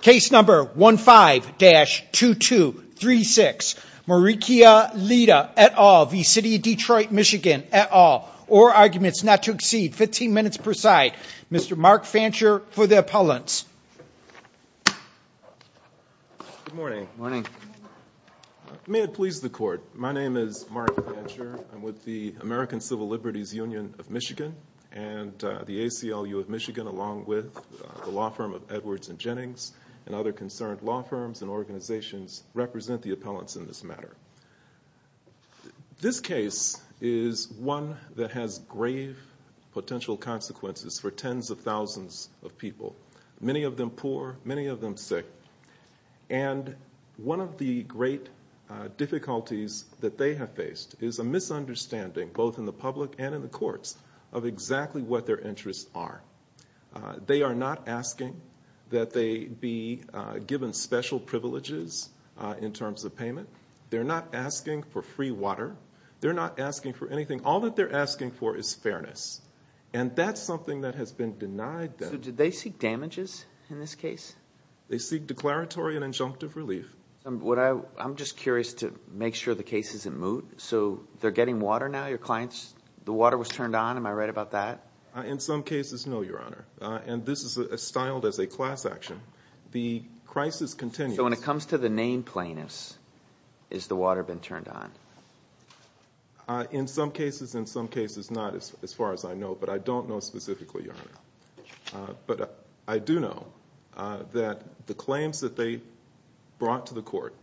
Case number 15-2236 Marikia Lyda et al. v. City of Detroit MI et al. Or arguments not to exceed 15 minutes per side. Mr. Mark Fancher for the appellants. Good morning. May it please the court, my name is Mark Fancher. I'm with the American Civil Liberties Union of Michigan and the ACLU of Michigan along with the law firm of Edwards and Jennings and other concerned law firms and organizations represent the appellants in this matter. This case is one that has grave potential consequences for tens of thousands of people, many of them poor, many of them sick and one of the great difficulties that they have faced is a misunderstanding both in the public and in the courts of exactly what their interests are. They are not asking that they be given special privileges in terms of payment. They're not asking for free water. They're not asking for anything. All that they're asking for is fairness and that's something that has been denied them. So did they seek damages in this case? They seek declaratory and injunctive relief. I'm just curious to make sure the case is in moot. So they're getting water now, your clients, the water was turned on, am I right about that? In some cases, no, your honor. And this is styled as a class action. The crisis continues. So when it comes to the name plainness, has the water been turned on? In some cases, in some cases not as far as I know, but I don't know specifically, your honor. But I do know that the claims that they brought to the court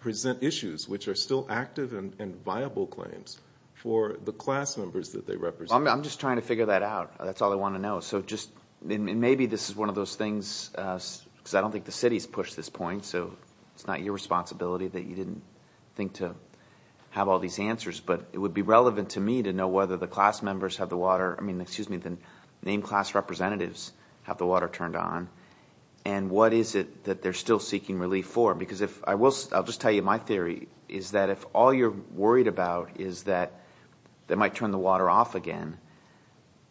present issues which are still active and viable claims for the class members that they represent. I'm just trying to figure that out. That's all I want to know. So just maybe this is one of those things, because I don't think the city has pushed this point, so it's not your responsibility that you didn't think to have all these answers. But it would be relevant to me to know whether the class members have the water, I mean, excuse me, the named class representatives have the water turned on. And what is it that they're still seeking relief for? Because if I will – I'll just tell you my theory is that if all you're worried about is that they might turn the water off again,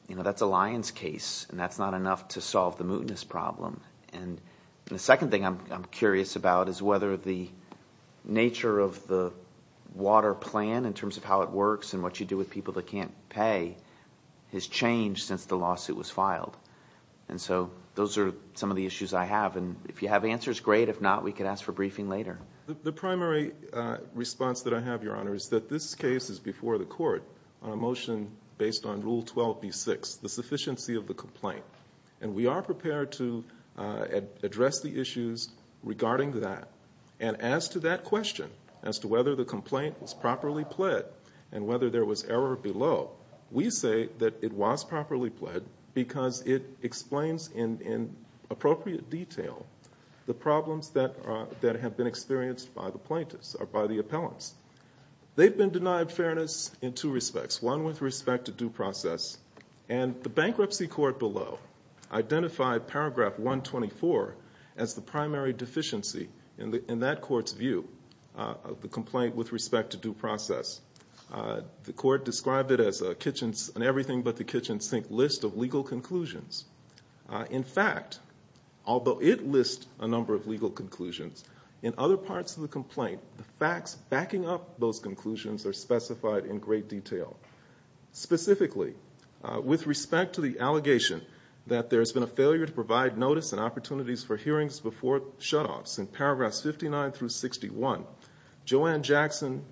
that's a lion's case, and that's not enough to solve the mootness problem. And the second thing I'm curious about is whether the nature of the water plan in terms of how it works and what you do with people that can't pay has changed since the lawsuit was filed. And so those are some of the issues I have. And if you have answers, great. If not, we can ask for briefing later. The primary response that I have, Your Honor, is that this case is before the court on a motion based on Rule 12b-6, the sufficiency of the complaint. And we are prepared to address the issues regarding that. And as to that question, as to whether the complaint was properly pled and whether there was error below, we say that it was properly pled because it explains in appropriate detail the problems that have been experienced by the plaintiffs or by the appellants. They've been denied fairness in two respects, one with respect to due process. And the bankruptcy court below identified Paragraph 124 as the primary deficiency in that court's view of the complaint with respect to due process. The court described it as a kitchen sink list of legal conclusions. In fact, although it lists a number of legal conclusions, in other parts of the complaint, the facts backing up those conclusions are specified in great detail. Specifically, with respect to the allegation that there's been a failure to provide notice and opportunities for hearings before shutoffs in paragraphs 59 through 61, Joanne Jackson,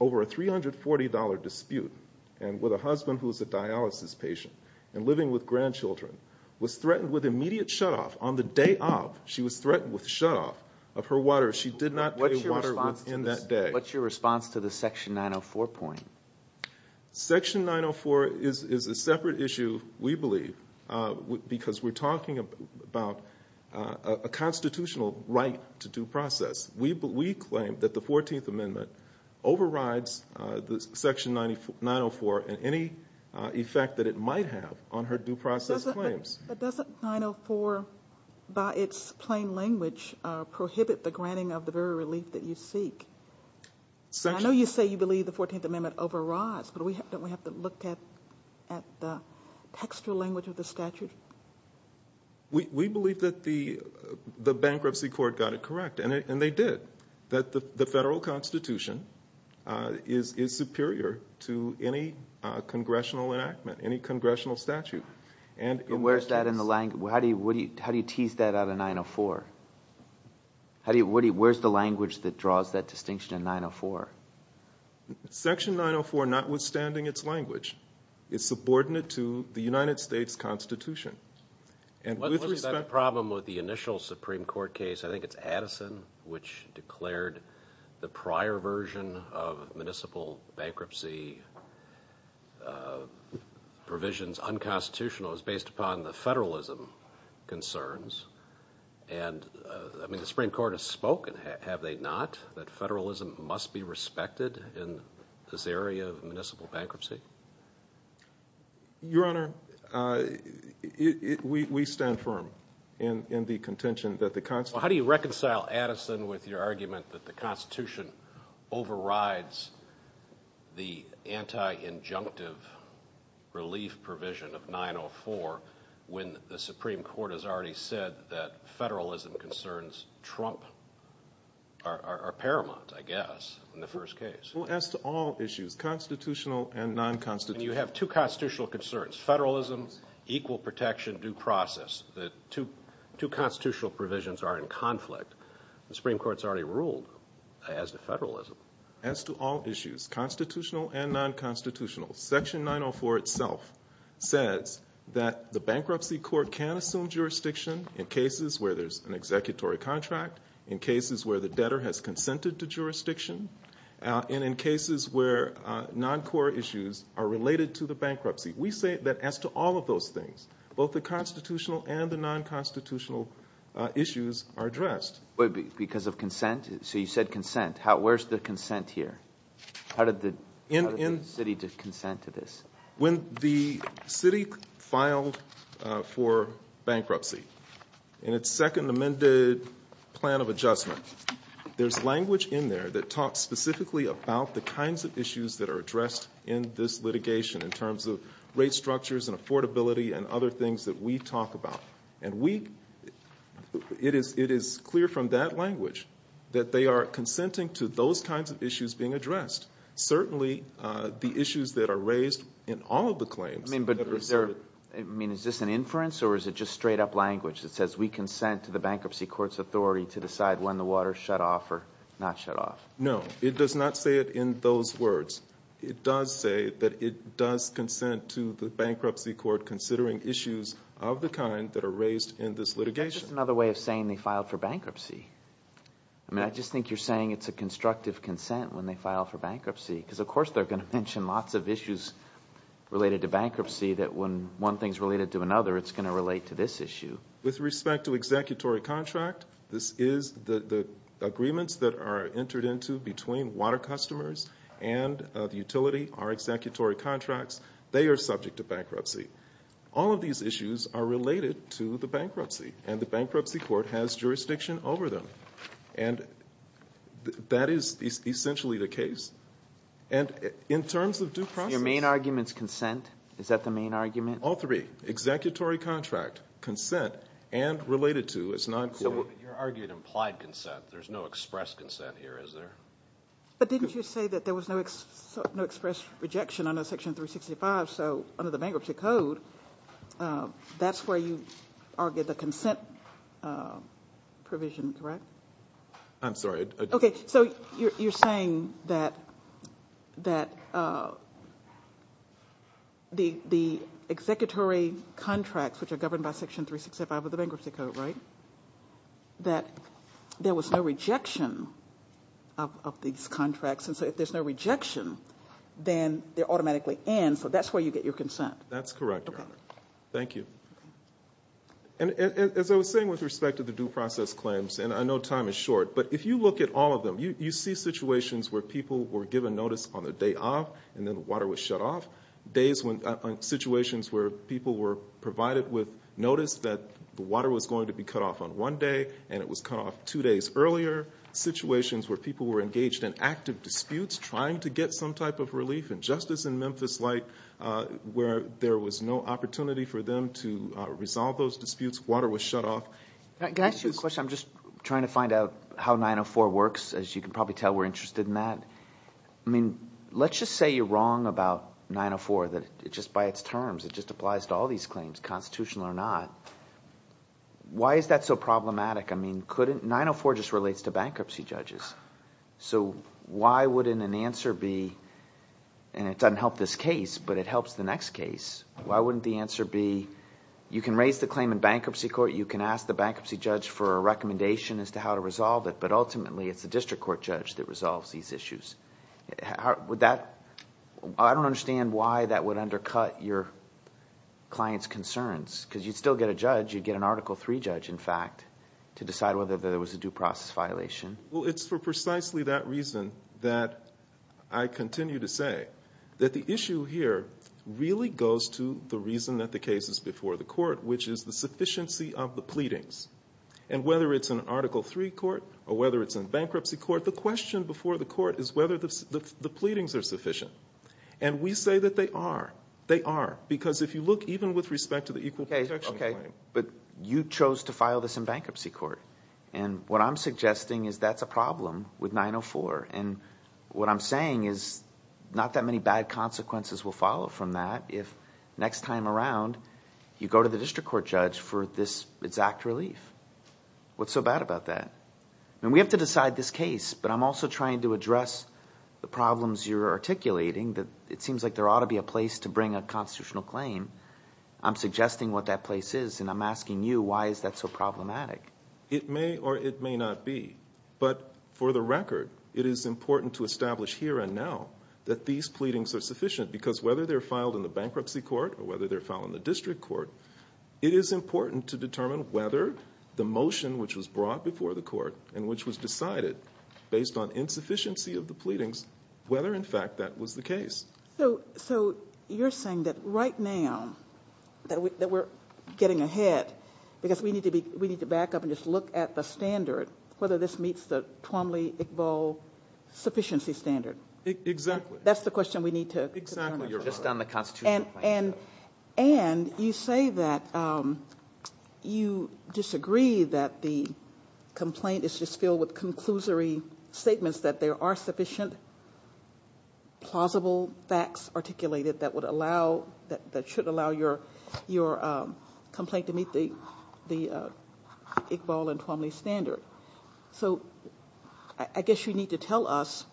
over a $340 dispute and with a husband who's a dialysis patient and living with grandchildren, was threatened with immediate shutoff on the day of she was threatened with shutoff of her water. She did not pay water in that day. What's your response to the Section 904 point? Section 904 is a separate issue, we believe, because we're talking about a constitutional right to due process. We claim that the 14th Amendment overrides Section 904 and any effect that it might have on her due process claims. But doesn't 904, by its plain language, prohibit the granting of the very relief that you seek? I know you say you believe the 14th Amendment overrides, but don't we have to look at the textual language of the statute? We believe that the bankruptcy court got it correct, and they did. That the federal constitution is superior to any congressional enactment, any congressional statute. Where's that in the language? How do you tease that out of 904? Where's the language that draws that distinction in 904? Section 904, notwithstanding its language, is subordinate to the United States Constitution. What was the problem with the initial Supreme Court case? I think it's Addison which declared the prior version of municipal bankruptcy provisions unconstitutional. It was based upon the federalism concerns. The Supreme Court has spoken, have they not? That federalism must be respected in this area of municipal bankruptcy? Your Honor, we stand firm in the contention that the Constitution How do you reconcile Addison with your argument that the Constitution overrides the anti-injunctive relief provision of 904 when the Supreme Court has already said that federalism concerns trump are paramount, I guess, in the first case. Well, as to all issues, constitutional and non-constitutional You have two constitutional concerns, federalism, equal protection, due process. The two constitutional provisions are in conflict. The Supreme Court's already ruled as to federalism. As to all issues, constitutional and non-constitutional, Section 904 itself says that the bankruptcy court can assume jurisdiction in cases where there's an executory contract, in cases where the debtor has consented to jurisdiction, and in cases where non-core issues are related to the bankruptcy. We say that as to all of those things, both the constitutional and the non-constitutional issues are addressed. Because of consent? So you said consent. Where's the consent here? How did the city consent to this? When the city filed for bankruptcy in its second amended plan of adjustment, there's language in there that talks specifically about the kinds of issues that are addressed in this litigation in terms of rate structures and affordability and other things that we talk about. And it is clear from that language that they are consenting to those kinds of issues being addressed. Certainly, the issues that are raised in all of the claims I mean, is this an inference or is it just straight up language that says we consent to the bankruptcy court's authority to decide when the water is shut off or not shut off? No, it does not say it in those words. It does say that it does consent to the bankruptcy court considering issues of the kind that are raised in this litigation. It's just another way of saying they filed for bankruptcy. I mean, I just think you're saying it's a constructive consent when they file for bankruptcy. Because of course they're going to mention lots of issues related to bankruptcy that when one thing is related to another, it's going to relate to this issue. With respect to executory contract, this is the agreements that are entered into between water customers and the utility are executory contracts. They are subject to bankruptcy. All of these issues are related to the bankruptcy, and the bankruptcy court has jurisdiction over them. And that is essentially the case. And in terms of due process Your main argument is consent? Is that the main argument? All three. Executory contract, consent, and related to is non-court. So you're arguing implied consent. There's no express consent here, is there? But didn't you say that there was no express rejection under Section 365? So under the bankruptcy code, that's where you argued the consent provision, correct? I'm sorry. Okay, so you're saying that the executory contracts, which are governed by Section 365 of the bankruptcy code, right? That there was no rejection of these contracts. And so if there's no rejection, then they automatically end. So that's where you get your consent. That's correct, Your Honor. Thank you. And as I was saying with respect to the due process claims, and I know time is short, but if you look at all of them, you see situations where people were given notice on the day of, and then the water was shut off. Situations where people were provided with notice that the water was going to be cut off on one day, and it was cut off two days earlier. Situations where people were engaged in active disputes, trying to get some type of relief and justice in Memphis-like, where there was no opportunity for them to resolve those disputes. Water was shut off. Can I ask you a question? I'm just trying to find out how 904 works. As you can probably tell, we're interested in that. I mean, let's just say you're wrong about 904, that just by its terms, it just applies to all these claims, constitutional or not. Why is that so problematic? I mean, 904 just relates to bankruptcy judges. So why wouldn't an answer be, and it doesn't help this case, but it helps the next case. Why wouldn't the answer be, you can raise the claim in bankruptcy court. You can ask the bankruptcy judge for a recommendation as to how to resolve it, but ultimately, it's the district court judge that resolves these issues. I don't understand why that would undercut your client's concerns, because you'd still get a judge. You'd get an Article III judge, in fact, to decide whether there was a due process violation. Well, it's for precisely that reason that I continue to say that the issue here really goes to the reason that the case is before the court, which is the sufficiency of the pleadings. And whether it's an Article III court or whether it's in bankruptcy court, the question before the court is whether the pleadings are sufficient. And we say that they are. They are. Because if you look, even with respect to the equal protection claim. Okay, but you chose to file this in bankruptcy court. And what I'm suggesting is that's a problem with 904. And what I'm saying is not that many bad consequences will follow from that if next time around, you go to the district court judge for this exact relief. What's so bad about that? I mean, we have to decide this case, but I'm also trying to address the problems you're articulating that it seems like there ought to be a place to bring a constitutional claim. I'm suggesting what that place is, and I'm asking you why is that so problematic? It may or it may not be. But for the record, it is important to establish here and now that these pleadings are sufficient. Because whether they're filed in the bankruptcy court or whether they're filed in the district court, it is important to determine whether the motion which was brought before the court and which was decided based on insufficiency of the pleadings, So you're saying that right now, that we're getting ahead, because we need to back up and just look at the standard, whether this meets the Twombly-Iqbal sufficiency standard. Exactly. That's the question we need to determine. Exactly. You're just on the constitutional claim. And you say that you disagree that the complaint is just filled with conclusory statements that there are sufficient plausible facts articulated that should allow your complaint to meet the Iqbal and Twombly standard. So I guess you need to tell us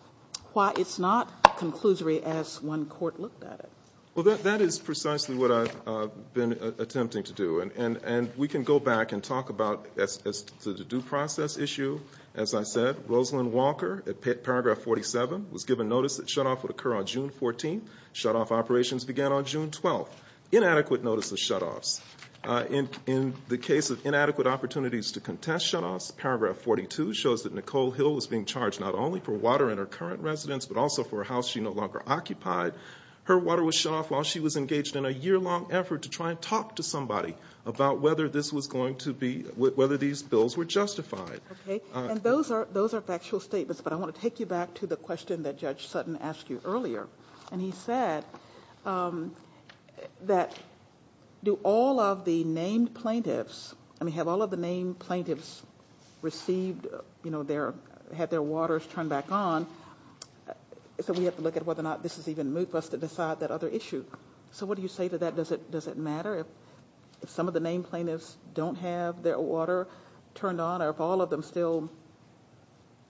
why it's not conclusory as one court looked at it. Well, that is precisely what I've been attempting to do. And we can go back and talk about the due process issue. As I said, Rosalynn Walker at paragraph 47 was given notice that shutoff would occur on June 14. Shutoff operations began on June 12. Inadequate notice of shutoffs. In the case of inadequate opportunities to contest shutoffs, paragraph 42 shows that Nicole Hill was being charged not only for water in her current residence, but also for a house she no longer occupied. Her water was shut off while she was engaged in a yearlong effort to try and talk to somebody about whether this was going to be, whether these bills were justified. Okay. And those are factual statements. But I want to take you back to the question that Judge Sutton asked you earlier. And he said that do all of the named plaintiffs, I mean, have all of the named plaintiffs received, you know, had their waters turned back on? So we have to look at whether or not this is even moot for us to decide that other issue. So what do you say to that? Does it matter if some of the named plaintiffs don't have their water turned on or if all of them still,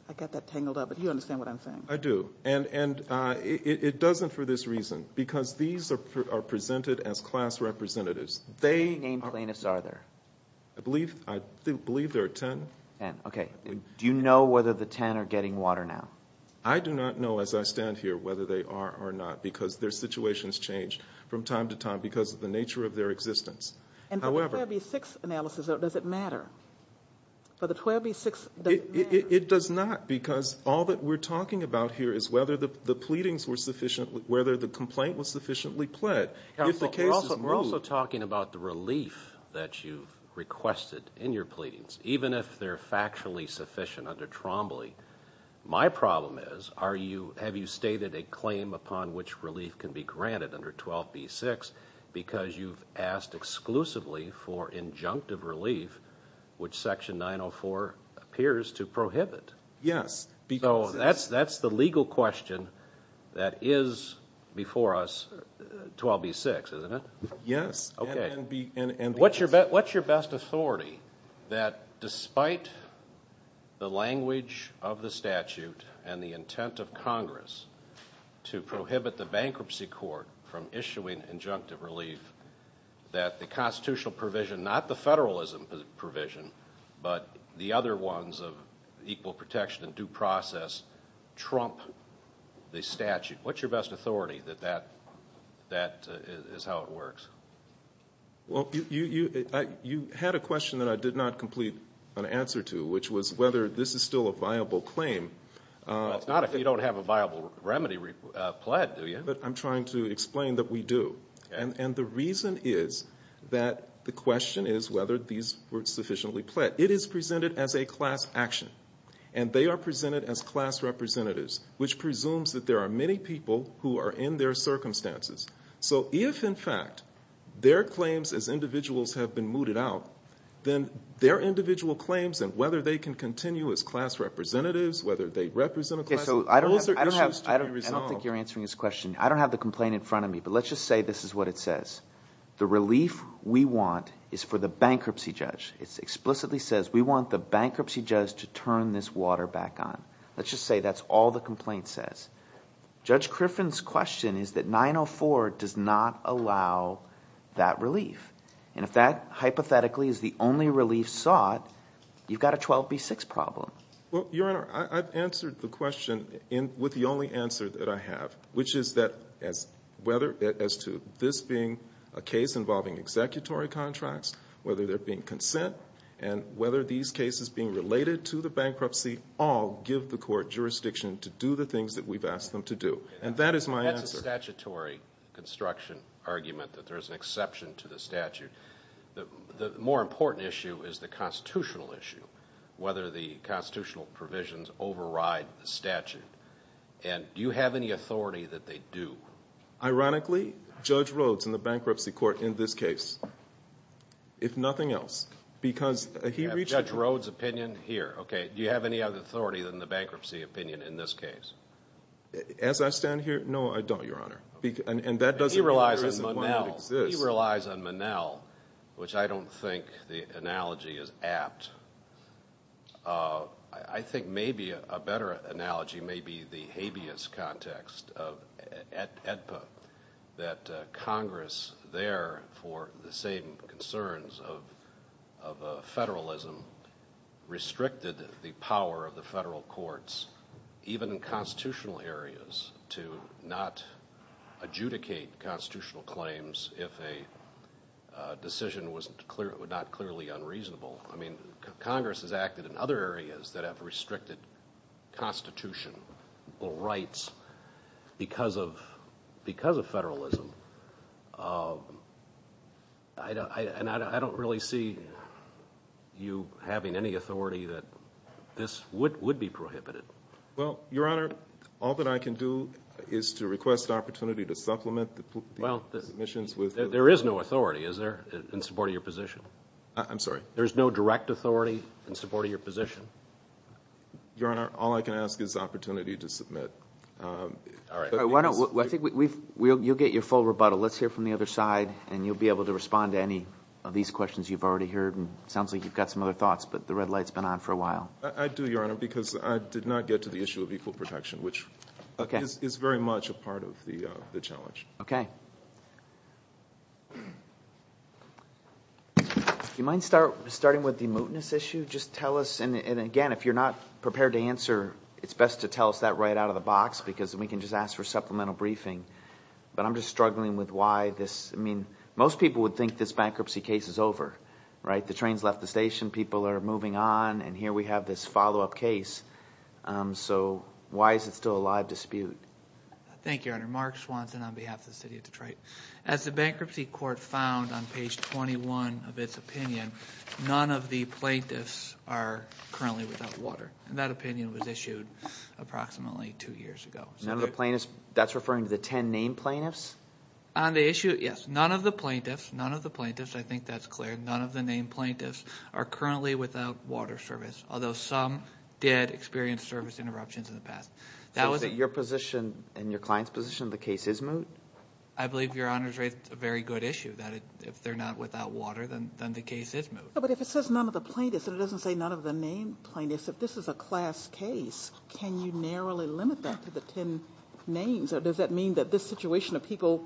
I got that tangled up, but you understand what I'm saying. I do. And it doesn't for this reason. Because these are presented as class representatives. How many named plaintiffs are there? I believe there are ten. Ten. Okay. Do you know whether the ten are getting water now? I do not know as I stand here whether they are or not because their situations change from time to time because of the nature of their existence. And for the 12B6 analysis, does it matter? For the 12B6, does it matter? It does not because all that we're talking about here is whether the pleadings were sufficiently, whether the complaint was sufficiently pled. We're also talking about the relief that you requested in your pleadings. Even if they're factually sufficient under Trombley, my problem is, have you stated a claim upon which relief can be granted under 12B6 because you've asked exclusively for injunctive relief, which Section 904 appears to prohibit? Yes. So that's the legal question that is before us, 12B6, isn't it? Yes. What's your best authority that despite the language of the statute and the intent of Congress to prohibit the bankruptcy court from issuing injunctive relief, that the constitutional provision, not the federalism provision, but the other ones of equal protection and due process trump the statute? What's your best authority that that is how it works? Well, you had a question that I did not complete an answer to, which was whether this is still a viable claim. Well, it's not if you don't have a viable remedy pled, do you? But I'm trying to explain that we do. And the reason is that the question is whether these were sufficiently pled. It is presented as a class action, and they are presented as class representatives, which presumes that there are many people who are in their circumstances. So if, in fact, their claims as individuals have been mooted out, then their individual claims and whether they can continue as class representatives, whether they represent a class – those are issues to be resolved. I don't think you're answering his question. I don't have the complaint in front of me, but let's just say this is what it says. The relief we want is for the bankruptcy judge. It explicitly says we want the bankruptcy judge to turn this water back on. Let's just say that's all the complaint says. Judge Griffin's question is that 904 does not allow that relief. And if that hypothetically is the only relief sought, you've got a 12B6 problem. Well, Your Honor, I've answered the question with the only answer that I have, which is that as – whether – as to this being a case involving executory contracts, whether they're being consent and whether these cases being related to the bankruptcy all give the court jurisdiction to do the things that we've asked them to do. And that is my answer. That's a statutory construction argument that there is an exception to the statute. The more important issue is the constitutional issue, whether the constitutional provisions override the statute. And do you have any authority that they do? Ironically, Judge Rhoades in the bankruptcy court in this case, if nothing else, because he reached a – You have Judge Rhoades' opinion here. Okay, do you have any other authority than the bankruptcy opinion in this case? As I stand here, no, I don't, Your Honor. And that doesn't mean there isn't one that exists. He relies on Monell, which I don't think the analogy is apt. I think maybe a better analogy may be the habeas context of AEDPA, that Congress there, for the same concerns of federalism, restricted the power of the federal courts, even in constitutional areas, to not adjudicate constitutional claims if a decision was not clearly unreasonable. I mean, Congress has acted in other areas that have restricted constitutional rights because of federalism. And I don't really see you having any authority that this would be prohibited. Well, Your Honor, all that I can do is to request the opportunity to supplement the submissions with – There is no authority, is there, in support of your position? I'm sorry? There is no direct authority in support of your position? Your Honor, all I can ask is the opportunity to submit. All right. I think you'll get your full rebuttal. Let's hear from the other side, and you'll be able to respond to any of these questions you've already heard. It sounds like you've got some other thoughts, but the red light's been on for a while. I do, Your Honor, because I did not get to the issue of equal protection, which is very much a part of the challenge. Okay. Do you mind starting with the mootness issue? Just tell us – and again, if you're not prepared to answer, it's best to tell us that right out of the box because we can just ask for supplemental briefing. But I'm just struggling with why this – I mean, most people would think this bankruptcy case is over, right? The train's left the station. People are moving on, and here we have this follow-up case. So why is it still a live dispute? Thank you, Your Honor. Mark Swanson on behalf of the city of Detroit. As the bankruptcy court found on page 21 of its opinion, none of the plaintiffs are currently without water. And that opinion was issued approximately two years ago. None of the plaintiffs – that's referring to the ten named plaintiffs? On the issue, yes. None of the plaintiffs – none of the plaintiffs, I think that's clear. None of the named plaintiffs are currently without water service, although some did experience service interruptions in the past. Is it your position and your client's position the case is moot? I believe Your Honor's raised a very good issue, that if they're not without water, then the case is moot. But if it says none of the plaintiffs and it doesn't say none of the named plaintiffs, if this is a class case, can you narrowly limit that to the ten names? Does that mean that this situation of people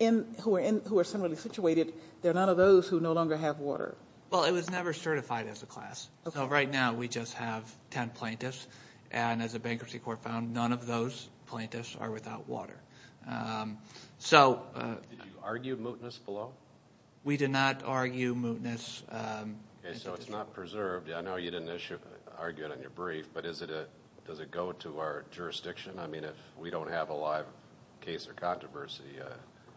who are similarly situated, they're none of those who no longer have water? Well, it was never certified as a class. So right now we just have ten plaintiffs, and as a bankruptcy court found, none of those plaintiffs are without water. Did you argue mootness below? We did not argue mootness. Okay, so it's not preserved. I know you didn't argue it in your brief, but does it go to our jurisdiction? I mean, if we don't have a live case or controversy?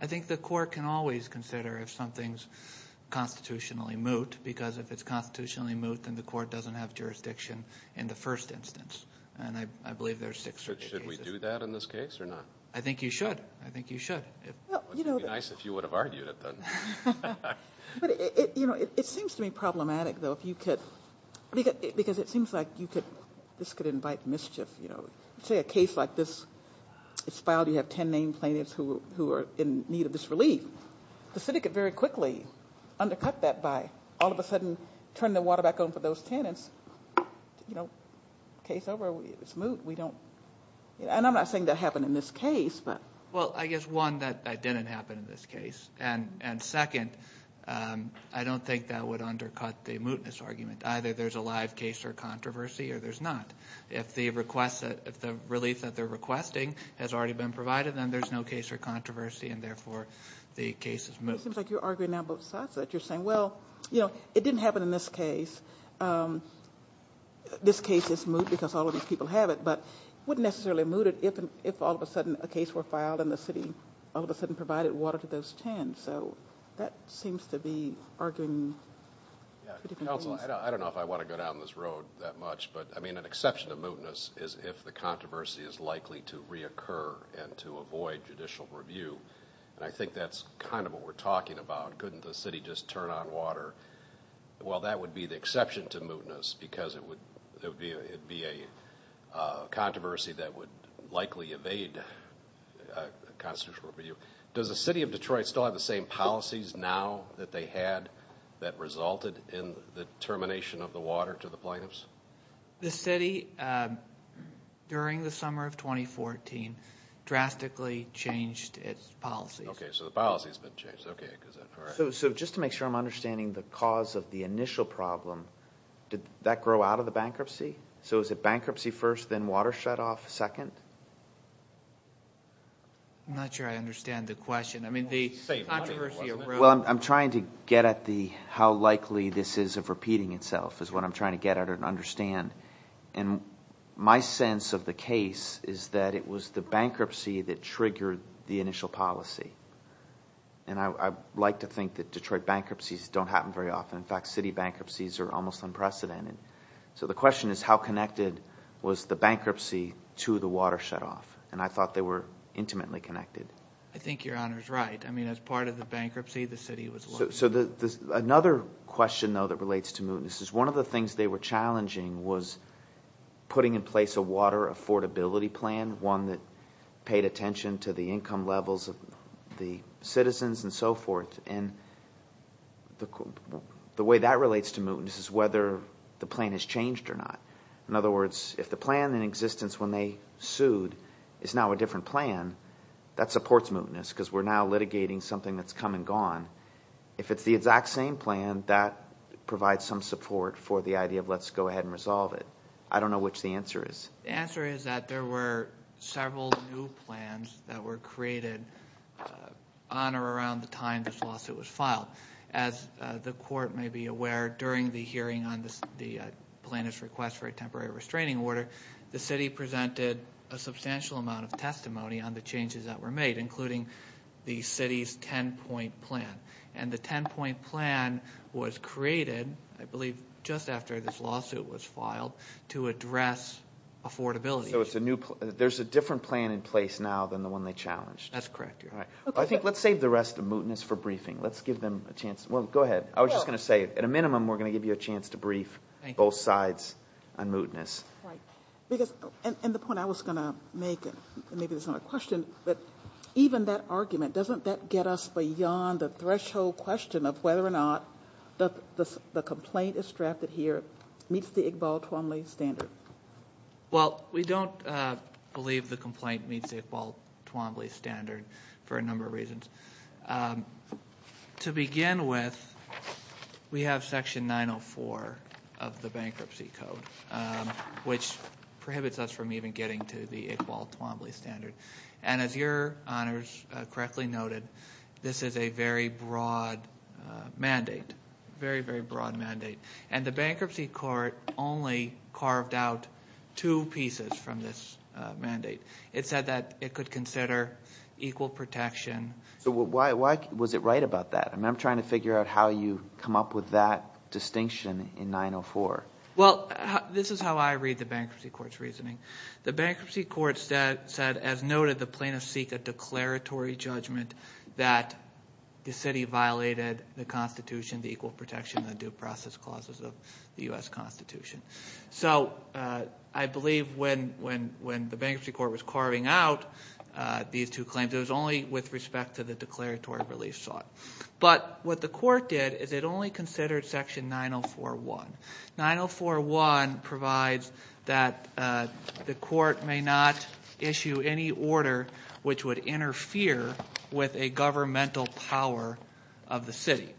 I think the court can always consider if something's constitutionally moot, because if it's constitutionally moot, then the court doesn't have jurisdiction in the first instance. And I believe there are six such cases. Should we do that in this case or not? I think you should. I think you should. It would be nice if you would have argued it, then. It seems to me problematic, though, because it seems like this could invite mischief. Say a case like this is filed, you have ten named plaintiffs who are in need of this relief. The city could very quickly undercut that by all of a sudden turning the water back on for those tenants. Case over, it's moot. And I'm not saying that happened in this case. Well, I guess, one, that didn't happen in this case. And second, I don't think that would undercut the mootness argument. Either there's a live case or controversy, or there's not. If the relief that they're requesting has already been provided, then there's no case or controversy, and therefore the case is moot. It seems like you're arguing now both sides of it. You're saying, well, it didn't happen in this case. This case is moot because all of these people have it, but it wouldn't necessarily be mooted if all of a sudden a case were filed and the city all of a sudden provided water to those ten. So that seems to be arguing two different things. Counsel, I don't know if I want to go down this road that much, but an exception to mootness is if the controversy is likely to reoccur and to avoid judicial review. And I think that's kind of what we're talking about. Couldn't the city just turn on water? Well, that would be the exception to mootness because it would be a controversy that would likely evade constitutional review. Does the city of Detroit still have the same policies now that they had that resulted in the termination of the water to the plaintiffs? The city, during the summer of 2014, drastically changed its policies. Okay, so the policy has been changed. So just to make sure I'm understanding the cause of the initial problem, did that grow out of the bankruptcy? So is it bankruptcy first, then water shutoff second? I'm not sure I understand the question. Well, I'm trying to get at how likely this is of repeating itself is what I'm trying to get at and understand. And my sense of the case is that it was the bankruptcy that triggered the initial policy. And I like to think that Detroit bankruptcies don't happen very often. In fact, city bankruptcies are almost unprecedented. So the question is how connected was the bankruptcy to the water shutoff? And I thought they were intimately connected. I think Your Honor is right. I mean, as part of the bankruptcy, the city was looking at it. So another question, though, that relates to mootness is one of the things they were challenging was putting in place a water affordability plan, one that paid attention to the income levels of the citizens and so forth. And the way that relates to mootness is whether the plan has changed or not. In other words, if the plan in existence when they sued is now a different plan, that supports mootness because we're now litigating something that's come and gone. If it's the exact same plan, that provides some support for the idea of let's go ahead and resolve it. I don't know which the answer is. The answer is that there were several new plans that were created on or around the time this lawsuit was filed. As the court may be aware, during the hearing on the plaintiff's request for a temporary restraining order, the city presented a substantial amount of testimony on the changes that were made, including the city's ten-point plan. And the ten-point plan was created, I believe just after this lawsuit was filed, to address affordability. So there's a different plan in place now than the one they challenged. That's correct, Your Honor. I think let's save the rest of mootness for briefing. Let's give them a chance. Well, go ahead. I was just going to say, at a minimum, we're going to give you a chance to brief both sides on mootness. Right. And the point I was going to make, and maybe this is not a question, but even that argument, doesn't that get us beyond the threshold question of whether or not the complaint that's drafted here meets the Iqbal-Twombly standard? Well, we don't believe the complaint meets the Iqbal-Twombly standard for a number of reasons. To begin with, we have Section 904 of the Bankruptcy Code, which prohibits us from even getting to the Iqbal-Twombly standard. And as Your Honors correctly noted, this is a very broad mandate, very, very broad mandate. And the Bankruptcy Court only carved out two pieces from this mandate. It said that it could consider equal protection. So why was it right about that? I'm trying to figure out how you come up with that distinction in 904. Well, this is how I read the Bankruptcy Court's reasoning. The Bankruptcy Court said, as noted, the plaintiffs seek a declaratory judgment that the city violated the Constitution, the equal protection, and the due process clauses of the U.S. Constitution. So I believe when the Bankruptcy Court was carving out these two claims, it was only with respect to the declaratory relief sought. But what the court did is it only considered Section 904.1. 904.1 provides that the court may not issue any order which would interfere with a governmental power of the city.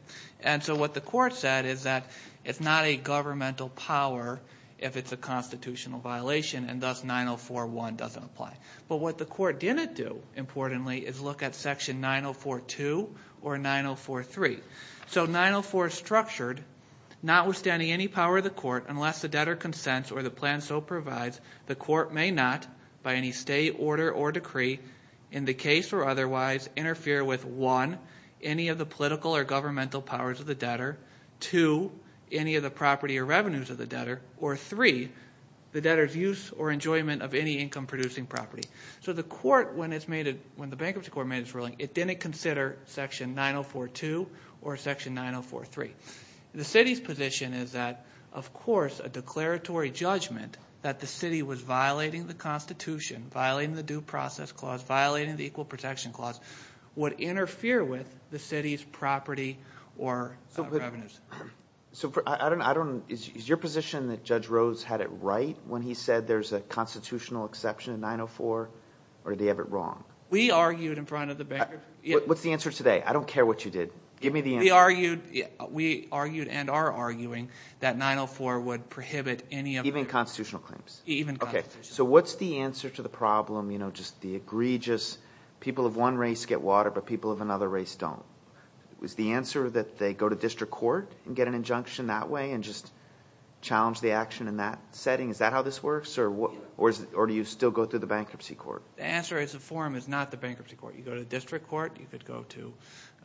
And so what the court said is that it's not a governmental power if it's a constitutional violation, and thus 904.1 doesn't apply. But what the court didn't do, importantly, is look at Section 904.2 or 904.3. So 904 is structured, notwithstanding any power of the court, unless the debtor consents or the plan so provides, the court may not, by any state order or decree, in the case or otherwise, interfere with, one, any of the political or governmental powers of the debtor, two, any of the property or revenues of the debtor, or three, the debtor's use or enjoyment of any income-producing property. So the court, when the Bankruptcy Court made its ruling, it didn't consider Section 904.2 or Section 904.3. The city's position is that, of course, a declaratory judgment that the city was violating the Constitution, violating the Due Process Clause, violating the Equal Protection Clause, would interfere with the city's property or revenues. So is your position that Judge Rose had it right when he said there's a constitutional exception in 904, or did he have it wrong? We argued in front of the bankers. What's the answer today? I don't care what you did. Give me the answer. We argued and are arguing that 904 would prohibit any of the… Even constitutional claims? Even constitutional claims. Okay. So what's the answer to the problem, you know, just the egregious people of one race get water but people of another race don't? Is the answer that they go to district court and get an injunction that way and just challenge the action in that setting? Is that how this works, or do you still go through the Bankruptcy Court? The answer is the forum is not the Bankruptcy Court. You go to the district court, you could go to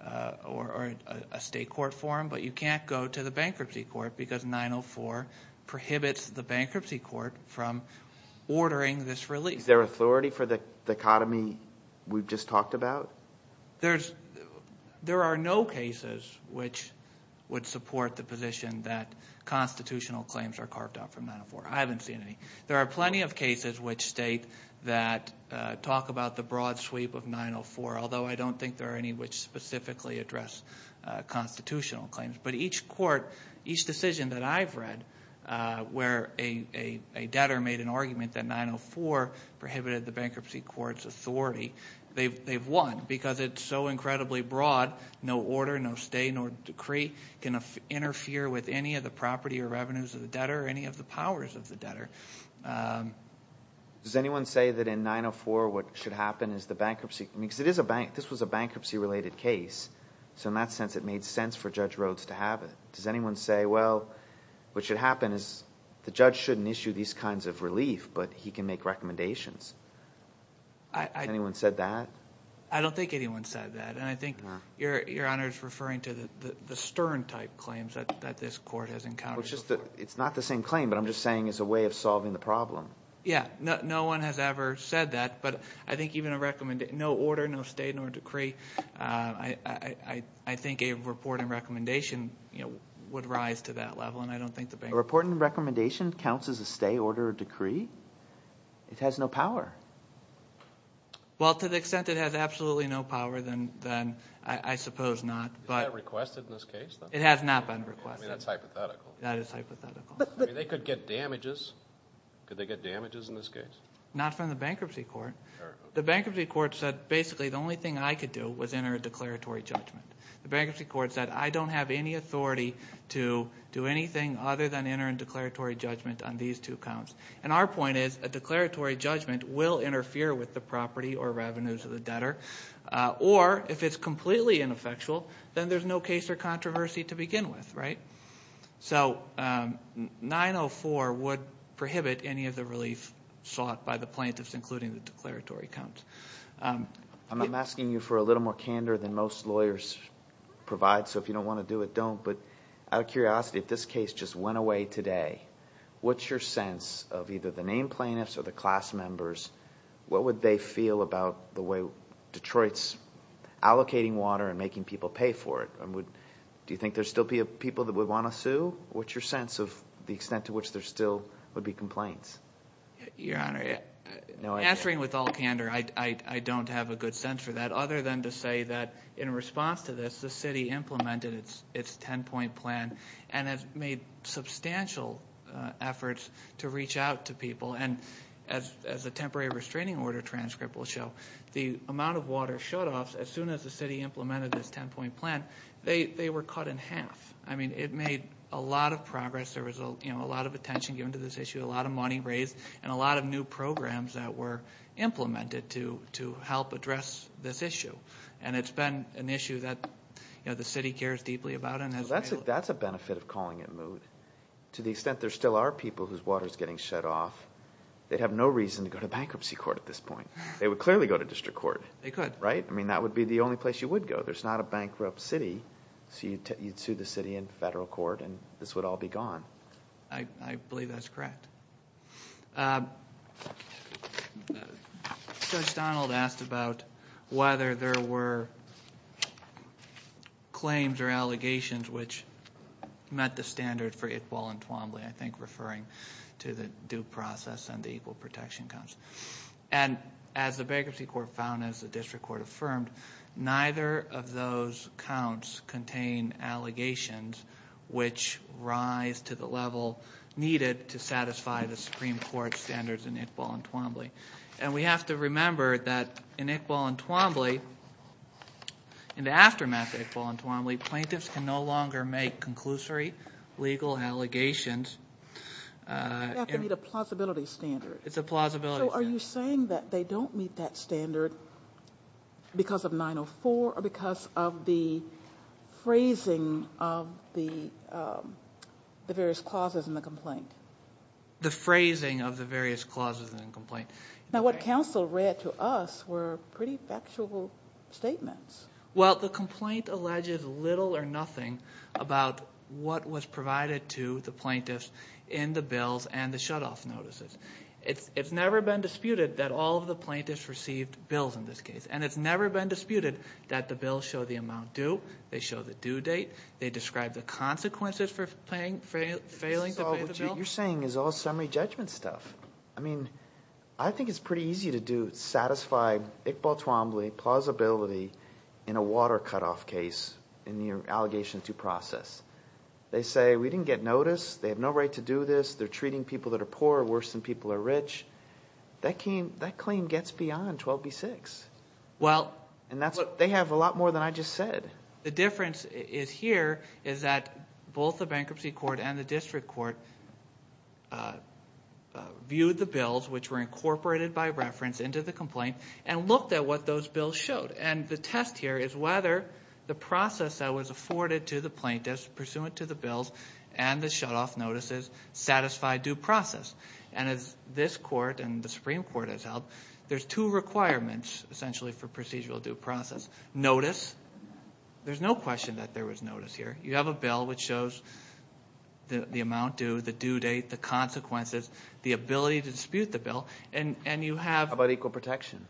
a state court forum, but you can't go to the Bankruptcy Court because 904 prohibits the Bankruptcy Court from ordering this release. Is there authority for the dichotomy we've just talked about? There are no cases which would support the position that constitutional claims are carved out from 904. I haven't seen any. There are plenty of cases which state that talk about the broad sweep of 904, although I don't think there are any which specifically address constitutional claims. But each court, each decision that I've read where a debtor made an argument that 904 prohibited the Bankruptcy Court's authority, they've won because it's so incredibly broad. No order, no stay, nor decree can interfere with any of the property or revenues of the debtor or any of the powers of the debtor. Does anyone say that in 904 what should happen is the bankruptcy... because this was a bankruptcy-related case, so in that sense it made sense for Judge Rhodes to have it. Does anyone say, well, what should happen is the judge shouldn't issue these kinds of relief, but he can make recommendations? Has anyone said that? I don't think anyone said that, and I think Your Honor is referring to the Stern-type claims that this court has encountered before. It's not the same claim, but I'm just saying it's a way of solving the problem. Yeah, no one has ever said that, but I think even a recommendation... no order, no stay, nor decree... I think a report and recommendation would rise to that level, and I don't think the bank... A report and recommendation counts as a stay, order, or decree? It has no power. Well, to the extent it has absolutely no power, then I suppose not. Is that requested in this case? It has not been requested. That's hypothetical. That is hypothetical. They could get damages. Could they get damages in this case? Not from the bankruptcy court. The bankruptcy court said basically the only thing I could do was enter a declaratory judgment. The bankruptcy court said I don't have any authority to do anything other than enter a declaratory judgment on these two counts, and our point is a declaratory judgment will interfere with the property or revenues of the debtor, or if it's completely ineffectual, then there's no case or controversy to begin with, right? So 904 would prohibit any of the relief sought by the plaintiffs, including the declaratory counts. I'm asking you for a little more candor than most lawyers provide, so if you don't want to do it, don't, but out of curiosity, if this case just went away today, what's your sense of either the named plaintiffs or the class members? What would they feel about the way Detroit's allocating water and making people pay for it? Do you think there would still be people that would want to sue? What's your sense of the extent to which there still would be complaints? Your Honor, answering with all candor, I don't have a good sense for that, other than to say that in response to this, the city implemented its ten-point plan and has made substantial efforts to reach out to people, and as the temporary restraining order transcript will show, the amount of water shutoffs, as soon as the city implemented this ten-point plan, they were cut in half. It made a lot of progress. There was a lot of attention given to this issue, a lot of money raised, and a lot of new programs that were implemented to help address this issue, and it's been an issue that the city cares deeply about. That's a benefit of calling it moot. But to the extent there still are people whose water is getting shut off, they'd have no reason to go to bankruptcy court at this point. They would clearly go to district court. They could. Right? I mean, that would be the only place you would go. There's not a bankrupt city, so you'd sue the city in federal court and this would all be gone. I believe that's correct. Judge Donald asked about whether there were claims or allegations which met the standard for equal entwembly, I think referring to the due process and the equal protection counts. And as the bankruptcy court found, as the district court affirmed, neither of those counts contain allegations which rise to the level needed to satisfy the Supreme Court standards in equal entwembly. And we have to remember that in equal entwembly, in the aftermath of equal entwembly, plaintiffs can no longer make conclusory legal allegations. They have to meet a plausibility standard. It's a plausibility standard. So are you saying that they don't meet that standard because of 904 or because of the phrasing of the various clauses in the complaint? The phrasing of the various clauses in the complaint. Now, what counsel read to us were pretty factual statements. Well, the complaint alleges little or nothing about what was provided to the plaintiffs in the bills and the shutoff notices. It's never been disputed that all of the plaintiffs received bills in this case, and it's never been disputed that the bills show the amount due, they show the due date, they describe the consequences for failing to pay the bill. So what you're saying is all summary judgment stuff. I mean, I think it's pretty easy to satisfy equal entwembly, plausibility, in a water cutoff case in your allegation to process. They say we didn't get notice, they have no right to do this, they're treating people that are poor worse than people that are rich. That claim gets beyond 12b-6, and they have a lot more than I just said. The difference here is that both the bankruptcy court and the district court viewed the bills which were incorporated by reference into the complaint and looked at what those bills showed. And the test here is whether the process that was afforded to the plaintiffs pursuant to the bills and the shutoff notices satisfied due process. And as this court and the Supreme Court has held, there's two requirements essentially for procedural due process. Notice, there's no question that there was notice here. You have a bill which shows the amount due, the due date, the consequences, the ability to dispute the bill, and you have... How about equal protection?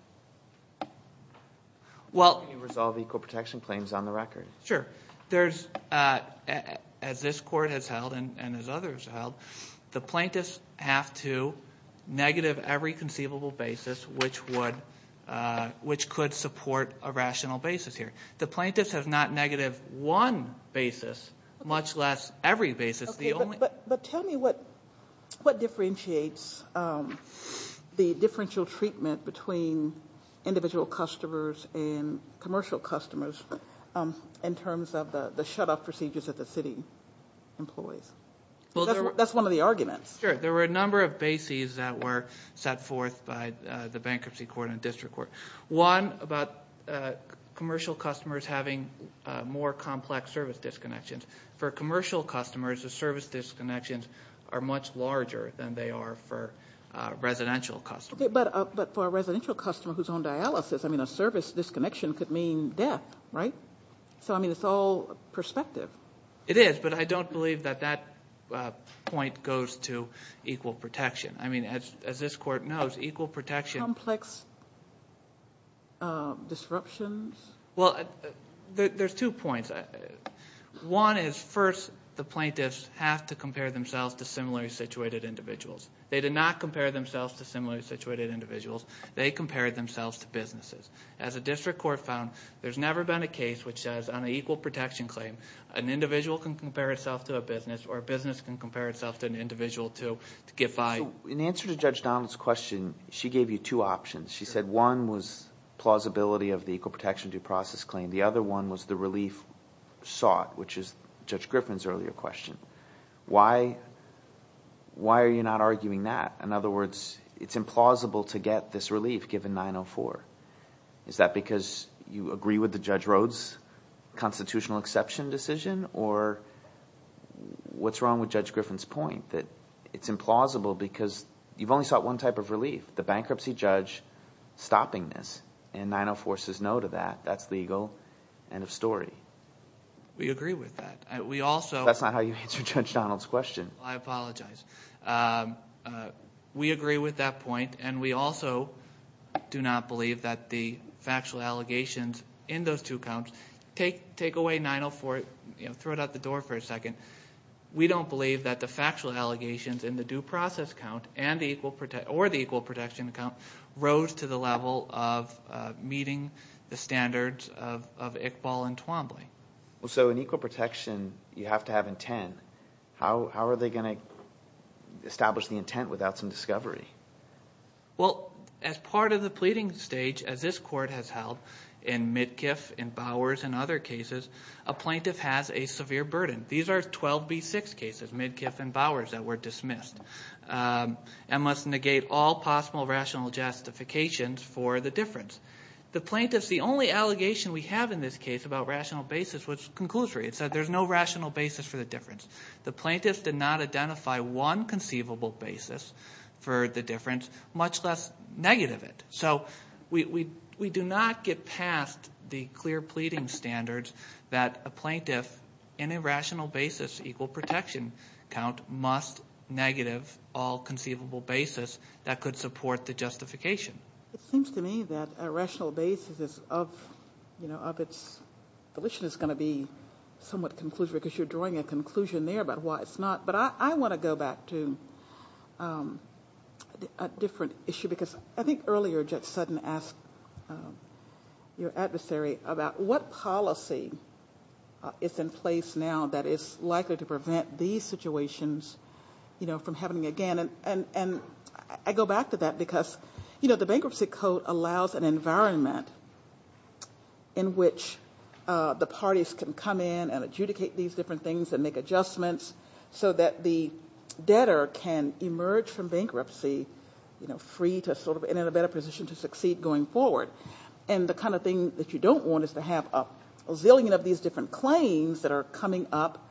Well... Can you resolve equal protection claims on the record? Sure. As this court has held and as others have held, the plaintiffs have to negative every conceivable basis which could support a rational basis here. The plaintiffs have not negative one basis, much less every basis. But tell me what differentiates the differential treatment between individual customers and commercial customers in terms of the shutoff procedures that the city employs? That's one of the arguments. Sure. There were a number of bases that were set forth by the bankruptcy court and district court. One about commercial customers having more complex service disconnections. For commercial customers, the service disconnections are much larger than they are for residential customers. But for a residential customer who's on dialysis, I mean, a service disconnection could mean death, right? So, I mean, it's all perspective. It is, but I don't believe that that point goes to equal protection. I mean, as this court knows, equal protection... Complex disruptions? Well, there's two points. One is, first, the plaintiffs have to compare themselves to similarly situated individuals. They did not compare themselves to similarly situated individuals. They compared themselves to businesses. As a district court found, there's never been a case which says on an equal protection claim, an individual can compare itself to a business or a business can compare itself to an individual to get by. In answer to Judge Donald's question, she gave you two options. She said one was plausibility of the equal protection due process claim. The other one was the relief sought, which is Judge Griffin's earlier question. Why are you not arguing that? In other words, it's implausible to get this relief given 904. Is that because you agree with the Judge Rhoades' constitutional exception decision, or what's wrong with Judge Griffin's point that it's implausible because you've only sought one type of relief, the bankruptcy judge stopping this, and 904 says no to that. That's legal. End of story. We agree with that. We also... That's not how you answered Judge Donald's question. I apologize. We agree with that point, and we also do not believe that the factual allegations in those two counts take away 904, throw it out the door for a second. We don't believe that the factual allegations in the due process count or the equal protection account rose to the level of meeting the standards of Iqbal and Twombly. So in equal protection, you have to have intent. How are they going to establish the intent without some discovery? Well, as part of the pleading stage, as this court has held, in Midkiff, in Bowers, and other cases, a plaintiff has a severe burden. These are 12B6 cases, Midkiff and Bowers, that were dismissed, and must negate all possible rational justifications for the difference. The plaintiffs, the only allegation we have in this case about rational basis was conclusory. It said there's no rational basis for the difference. The plaintiffs did not identify one conceivable basis for the difference, much less negative it. So we do not get past the clear pleading standards that a plaintiff, in a rational basis equal protection count, must negative all conceivable basis that could support the justification. It seems to me that a rational basis of its volition is going to be somewhat conclusive, because you're drawing a conclusion there about why it's not. But I want to go back to a different issue, because I think earlier, Judge Sutton asked your adversary about what policy is in place now that is likely to prevent these situations from happening again. I go back to that, because the Bankruptcy Code allows an environment in which the parties can come in and adjudicate these different things and make adjustments so that the debtor can emerge from bankruptcy free and in a better position to succeed going forward. The kind of thing that you don't want is to have a zillion of these different claims that are coming up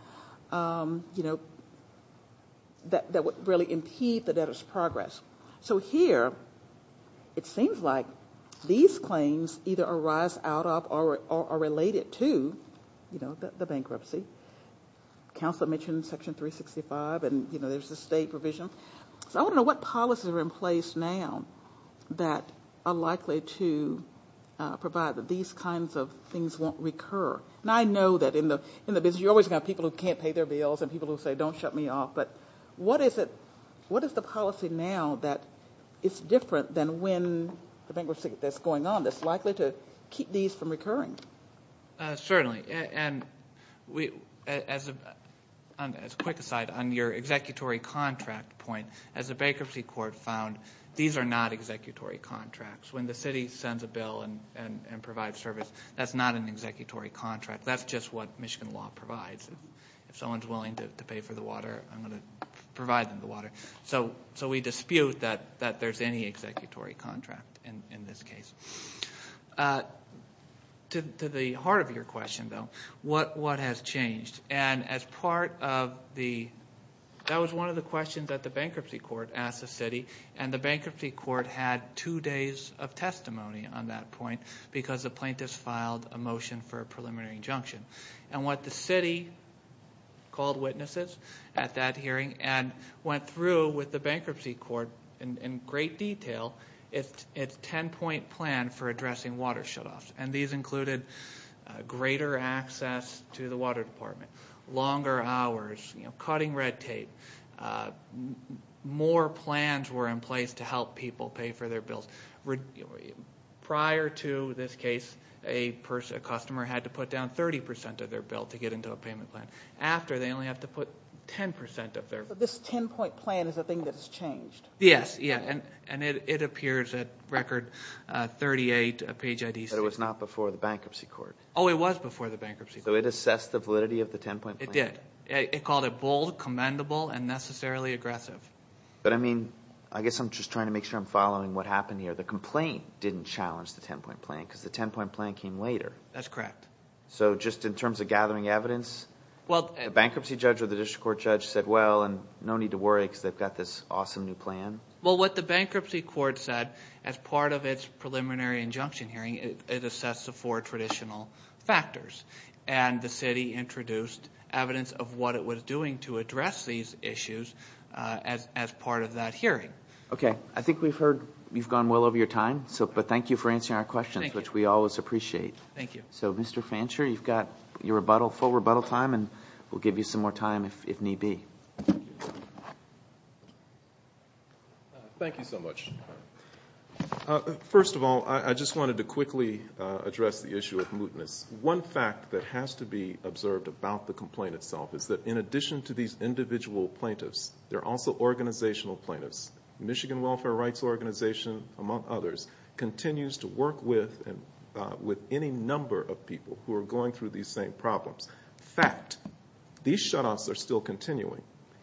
that would really impede the debtor's progress. So here it seems like these claims either arise out of or are related to the bankruptcy. Counselor mentioned Section 365, and there's the state provision. So I want to know what policies are in place now that are likely to provide that these kinds of things won't recur. And I know that in the business you always have people who can't pay their bills and people who say, don't shut me off. But what is the policy now that is different than when the bankruptcy is going on that's likely to keep these from recurring? Certainly. And as a quick aside, on your executory contract point, as the bankruptcy court found, these are not executory contracts. When the city sends a bill and provides service, that's not an executory contract. That's just what Michigan law provides. If someone's willing to pay for the water, I'm going to provide them the water. So we dispute that there's any executory contract in this case. To the heart of your question, though, what has changed? And as part of the – that was one of the questions that the bankruptcy court asked the city, and the bankruptcy court had two days of testimony on that point because the plaintiffs filed a motion for a preliminary injunction. And what the city called witnesses at that hearing and went through with the bankruptcy court in great detail, its 10-point plan for addressing water shutoffs. And these included greater access to the water department, longer hours, cutting red tape. More plans were in place to help people pay for their bills. Prior to this case, a customer had to put down 30% of their bill to get into a payment plan. After, they only have to put 10% of their bill. But this 10-point plan is a thing that's changed. Yes, yeah, and it appears at record 38 page IDs. But it was not before the bankruptcy court. Oh, it was before the bankruptcy court. So it assessed the validity of the 10-point plan? It did. It called it bold, commendable, and necessarily aggressive. But I mean, I guess I'm just trying to make sure I'm following what happened here. The complaint didn't challenge the 10-point plan because the 10-point plan came later. That's correct. So just in terms of gathering evidence, the bankruptcy judge or the district court judge said, well, no need to worry because they've got this awesome new plan? Well, what the bankruptcy court said as part of its preliminary injunction hearing, it assessed the four traditional factors. And the city introduced evidence of what it was doing to address these issues as part of that hearing. Okay. I think we've heard you've gone well over your time. But thank you for answering our questions, which we always appreciate. Thank you. So, Mr. Fancher, you've got your full rebuttal time, and we'll give you some more time if need be. Thank you so much. First of all, I just wanted to quickly address the issue of mootness. One fact that has to be observed about the complaint itself is that in addition to these individual plaintiffs, there are also organizational plaintiffs. The Michigan Welfare Rights Organization, among others, continues to work with any number of people who are going through these same problems. Fact, these shutoffs are still continuing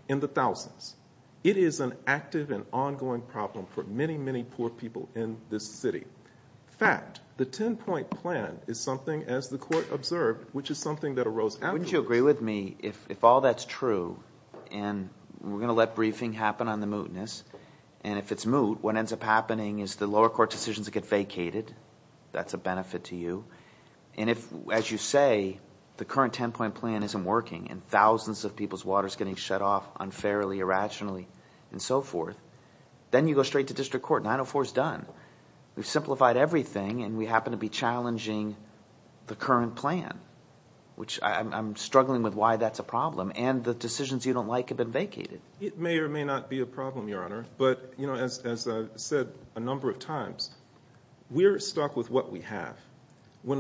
in the thousands. It is an active and ongoing problem for many, many poor people in this city. Fact, the 10-point plan is something, as the court observed, which is something that arose after. Wouldn't you agree with me if all that's true, and we're going to let briefing happen on the mootness, and if it's moot, what ends up happening is the lower court decisions get vacated. That's a benefit to you. And if, as you say, the current 10-point plan isn't working, and thousands of people's water is getting shut off unfairly, irrationally, and so forth, then you go straight to district court. 904 is done. We've simplified everything, and we happen to be challenging the current plan, which I'm struggling with why that's a problem. And the decisions you don't like have been vacated. It may or may not be a problem, Your Honor, but as I've said a number of times, we're stuck with what we have. When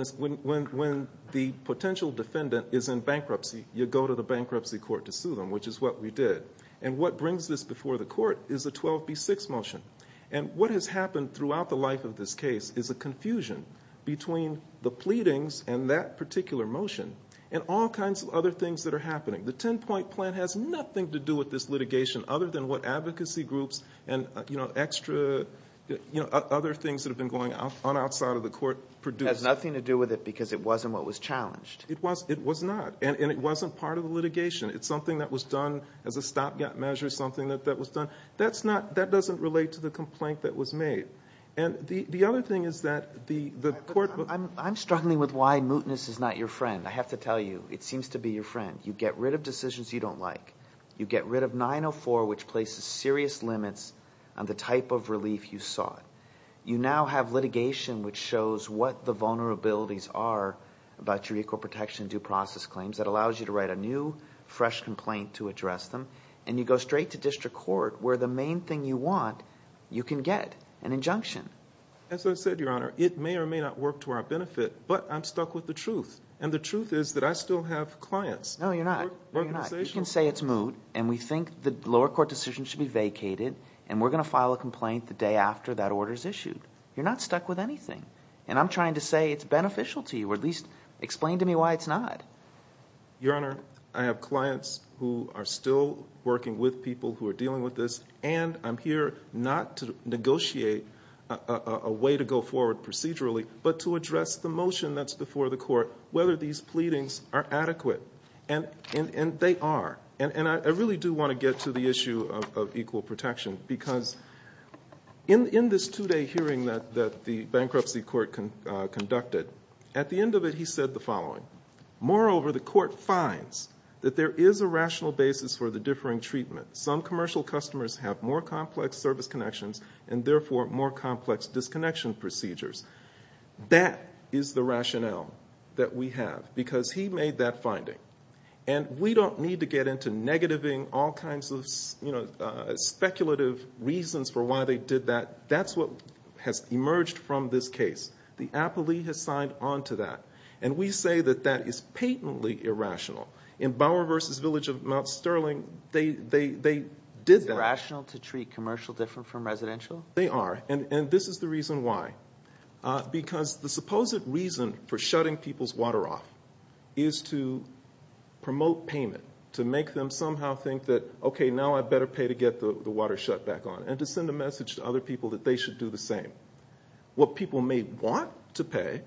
the potential defendant is in bankruptcy, you go to the bankruptcy court to sue them, which is what we did. And what brings this before the court is the 12B6 motion. And what has happened throughout the life of this case is a confusion between the pleadings and that particular motion and all kinds of other things that are happening. The 10-point plan has nothing to do with this litigation other than what advocacy groups and, you know, extra other things that have been going on outside of the court produced. It has nothing to do with it because it wasn't what was challenged. It was not, and it wasn't part of the litigation. It's something that was done as a stopgap measure, something that was done. That's not, that doesn't relate to the complaint that was made. And the other thing is that the court will— I'm struggling with why mootness is not your friend. I have to tell you, it seems to be your friend. You get rid of decisions you don't like. You get rid of 904, which places serious limits on the type of relief you sought. You now have litigation which shows what the vulnerabilities are about your equal protection due process claims. That allows you to write a new, fresh complaint to address them. And you go straight to district court where the main thing you want, you can get an injunction. As I said, Your Honor, it may or may not work to our benefit, but I'm stuck with the truth. And the truth is that I still have clients. No, you're not. You can say it's moot, and we think the lower court decision should be vacated, and we're going to file a complaint the day after that order is issued. You're not stuck with anything. And I'm trying to say it's beneficial to you, or at least explain to me why it's not. Your Honor, I have clients who are still working with people who are dealing with this, and I'm here not to negotiate a way to go forward procedurally, but to address the motion that's before the court, whether these pleadings are adequate. And they are. And I really do want to get to the issue of equal protection, because in this two-day hearing that the bankruptcy court conducted, at the end of it he said the following. Moreover, the court finds that there is a rational basis for the differing treatment. Some commercial customers have more complex service connections and therefore more complex disconnection procedures. That is the rationale that we have, because he made that finding. And we don't need to get into negativing all kinds of speculative reasons for why they did that. That's what has emerged from this case. The appellee has signed on to that. And we say that that is patently irrational. In Bauer v. Village of Mount Sterling, they did that. Is it rational to treat commercial different from residential? They are, and this is the reason why. Because the supposed reason for shutting people's water off is to promote payment, to make them somehow think that, okay, now I better pay to get the water shut back on, and to send a message to other people that they should do the same. What people may want to pay,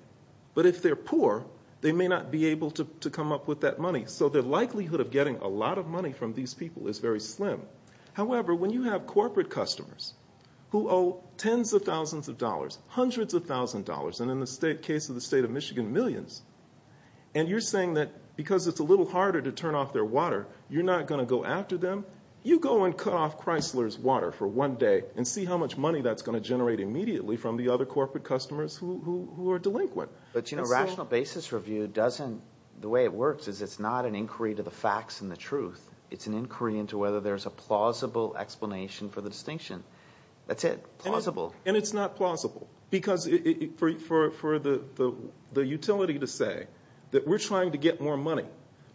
but if they're poor, they may not be able to come up with that money. So the likelihood of getting a lot of money from these people is very slim. However, when you have corporate customers who owe tens of thousands of dollars, hundreds of thousands of dollars, and in the case of the state of Michigan, millions, and you're saying that because it's a little harder to turn off their water, you're not going to go after them? You go and cut off Chrysler's water for one day and see how much money that's going to generate immediately from the other corporate customers who are delinquent. But, you know, rational basis review doesn't, the way it works is it's not an inquiry to the facts and the truth. It's an inquiry into whether there's a plausible explanation for the distinction. That's it, plausible. And it's not plausible because for the utility to say that we're trying to get more money,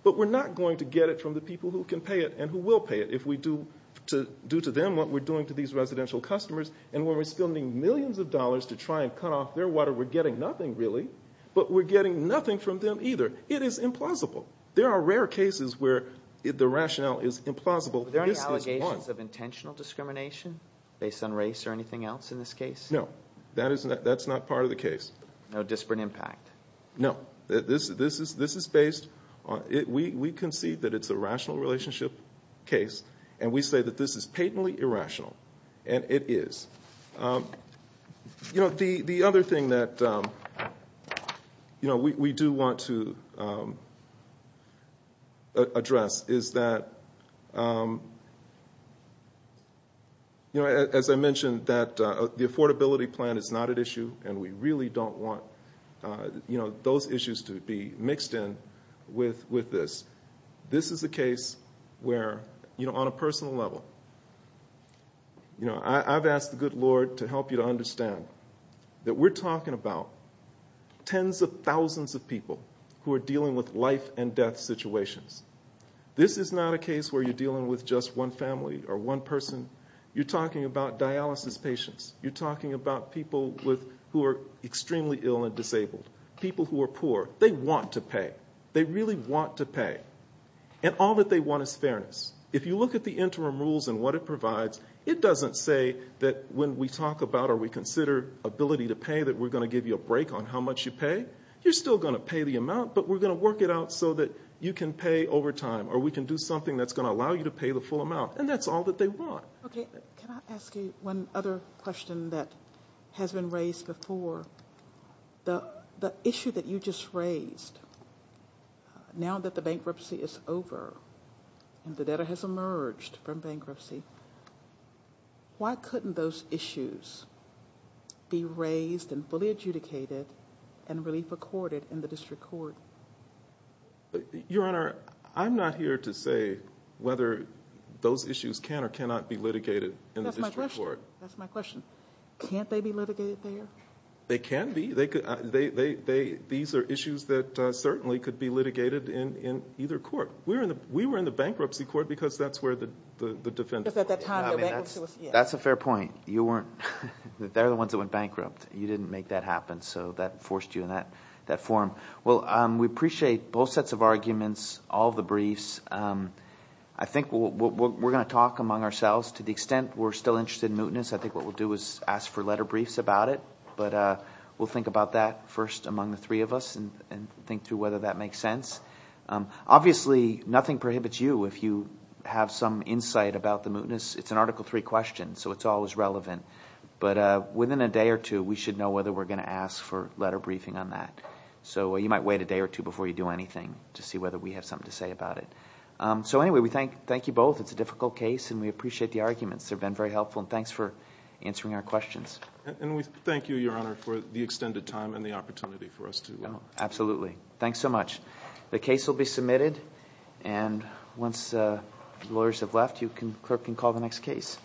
but we're not going to get it from the people who can pay it and who will pay it if we do to them what we're doing to these residential customers. And when we're spending millions of dollars to try and cut off their water, we're getting nothing really, but we're getting nothing from them either. It is implausible. There are rare cases where the rationale is implausible. This is one. Are there any allegations of intentional discrimination based on race or anything else in this case? No, that's not part of the case. No disparate impact? No. This is based on, we concede that it's a rational relationship case, and we say that this is patently irrational, and it is. You know, the other thing that, you know, we do want to address is that, you know, as I mentioned, that the affordability plan is not at issue, and we really don't want, you know, those issues to be mixed in with this. This is a case where, you know, on a personal level, you know, I've asked the good Lord to help you to understand that we're talking about tens of thousands of people who are dealing with life and death situations. This is not a case where you're dealing with just one family or one person. You're talking about dialysis patients. You're talking about people who are extremely ill and disabled, people who are poor. They want to pay. They really want to pay. And all that they want is fairness. If you look at the interim rules and what it provides, it doesn't say that when we talk about or we consider ability to pay that we're going to give you a break on how much you pay. You're still going to pay the amount, but we're going to work it out so that you can pay over time or we can do something that's going to allow you to pay the full amount, and that's all that they want. Okay. Can I ask you one other question that has been raised before? The issue that you just raised, now that the bankruptcy is over and the debtor has emerged from bankruptcy, why couldn't those issues be raised and fully adjudicated and relief accorded in the district court? Your Honor, I'm not here to say whether those issues can or cannot be litigated in the district court. That's my question. Can't they be litigated there? They can be. These are issues that certainly could be litigated in either court. We were in the bankruptcy court because that's where the defense... That's a fair point. They're the ones that went bankrupt. You didn't make that happen, so that forced you in that form. Well, we appreciate both sets of arguments, all the briefs. I think we're going to talk among ourselves. To the extent we're still interested in mootness, I think what we'll do is ask for letter briefs about it. But we'll think about that first among the three of us and think through whether that makes sense. Obviously, nothing prohibits you if you have some insight about the mootness. It's an Article III question, so it's always relevant. But within a day or two, we should know whether we're going to ask for letter briefing on that. So you might wait a day or two before you do anything to see whether we have something to say about it. So anyway, we thank you both. It's a difficult case, and we appreciate the arguments. They've been very helpful, and thanks for answering our questions. And we thank you, Your Honor, for the extended time and the opportunity for us to... Absolutely. Thanks so much. The case will be submitted, and once lawyers have left, the clerk can call the next case.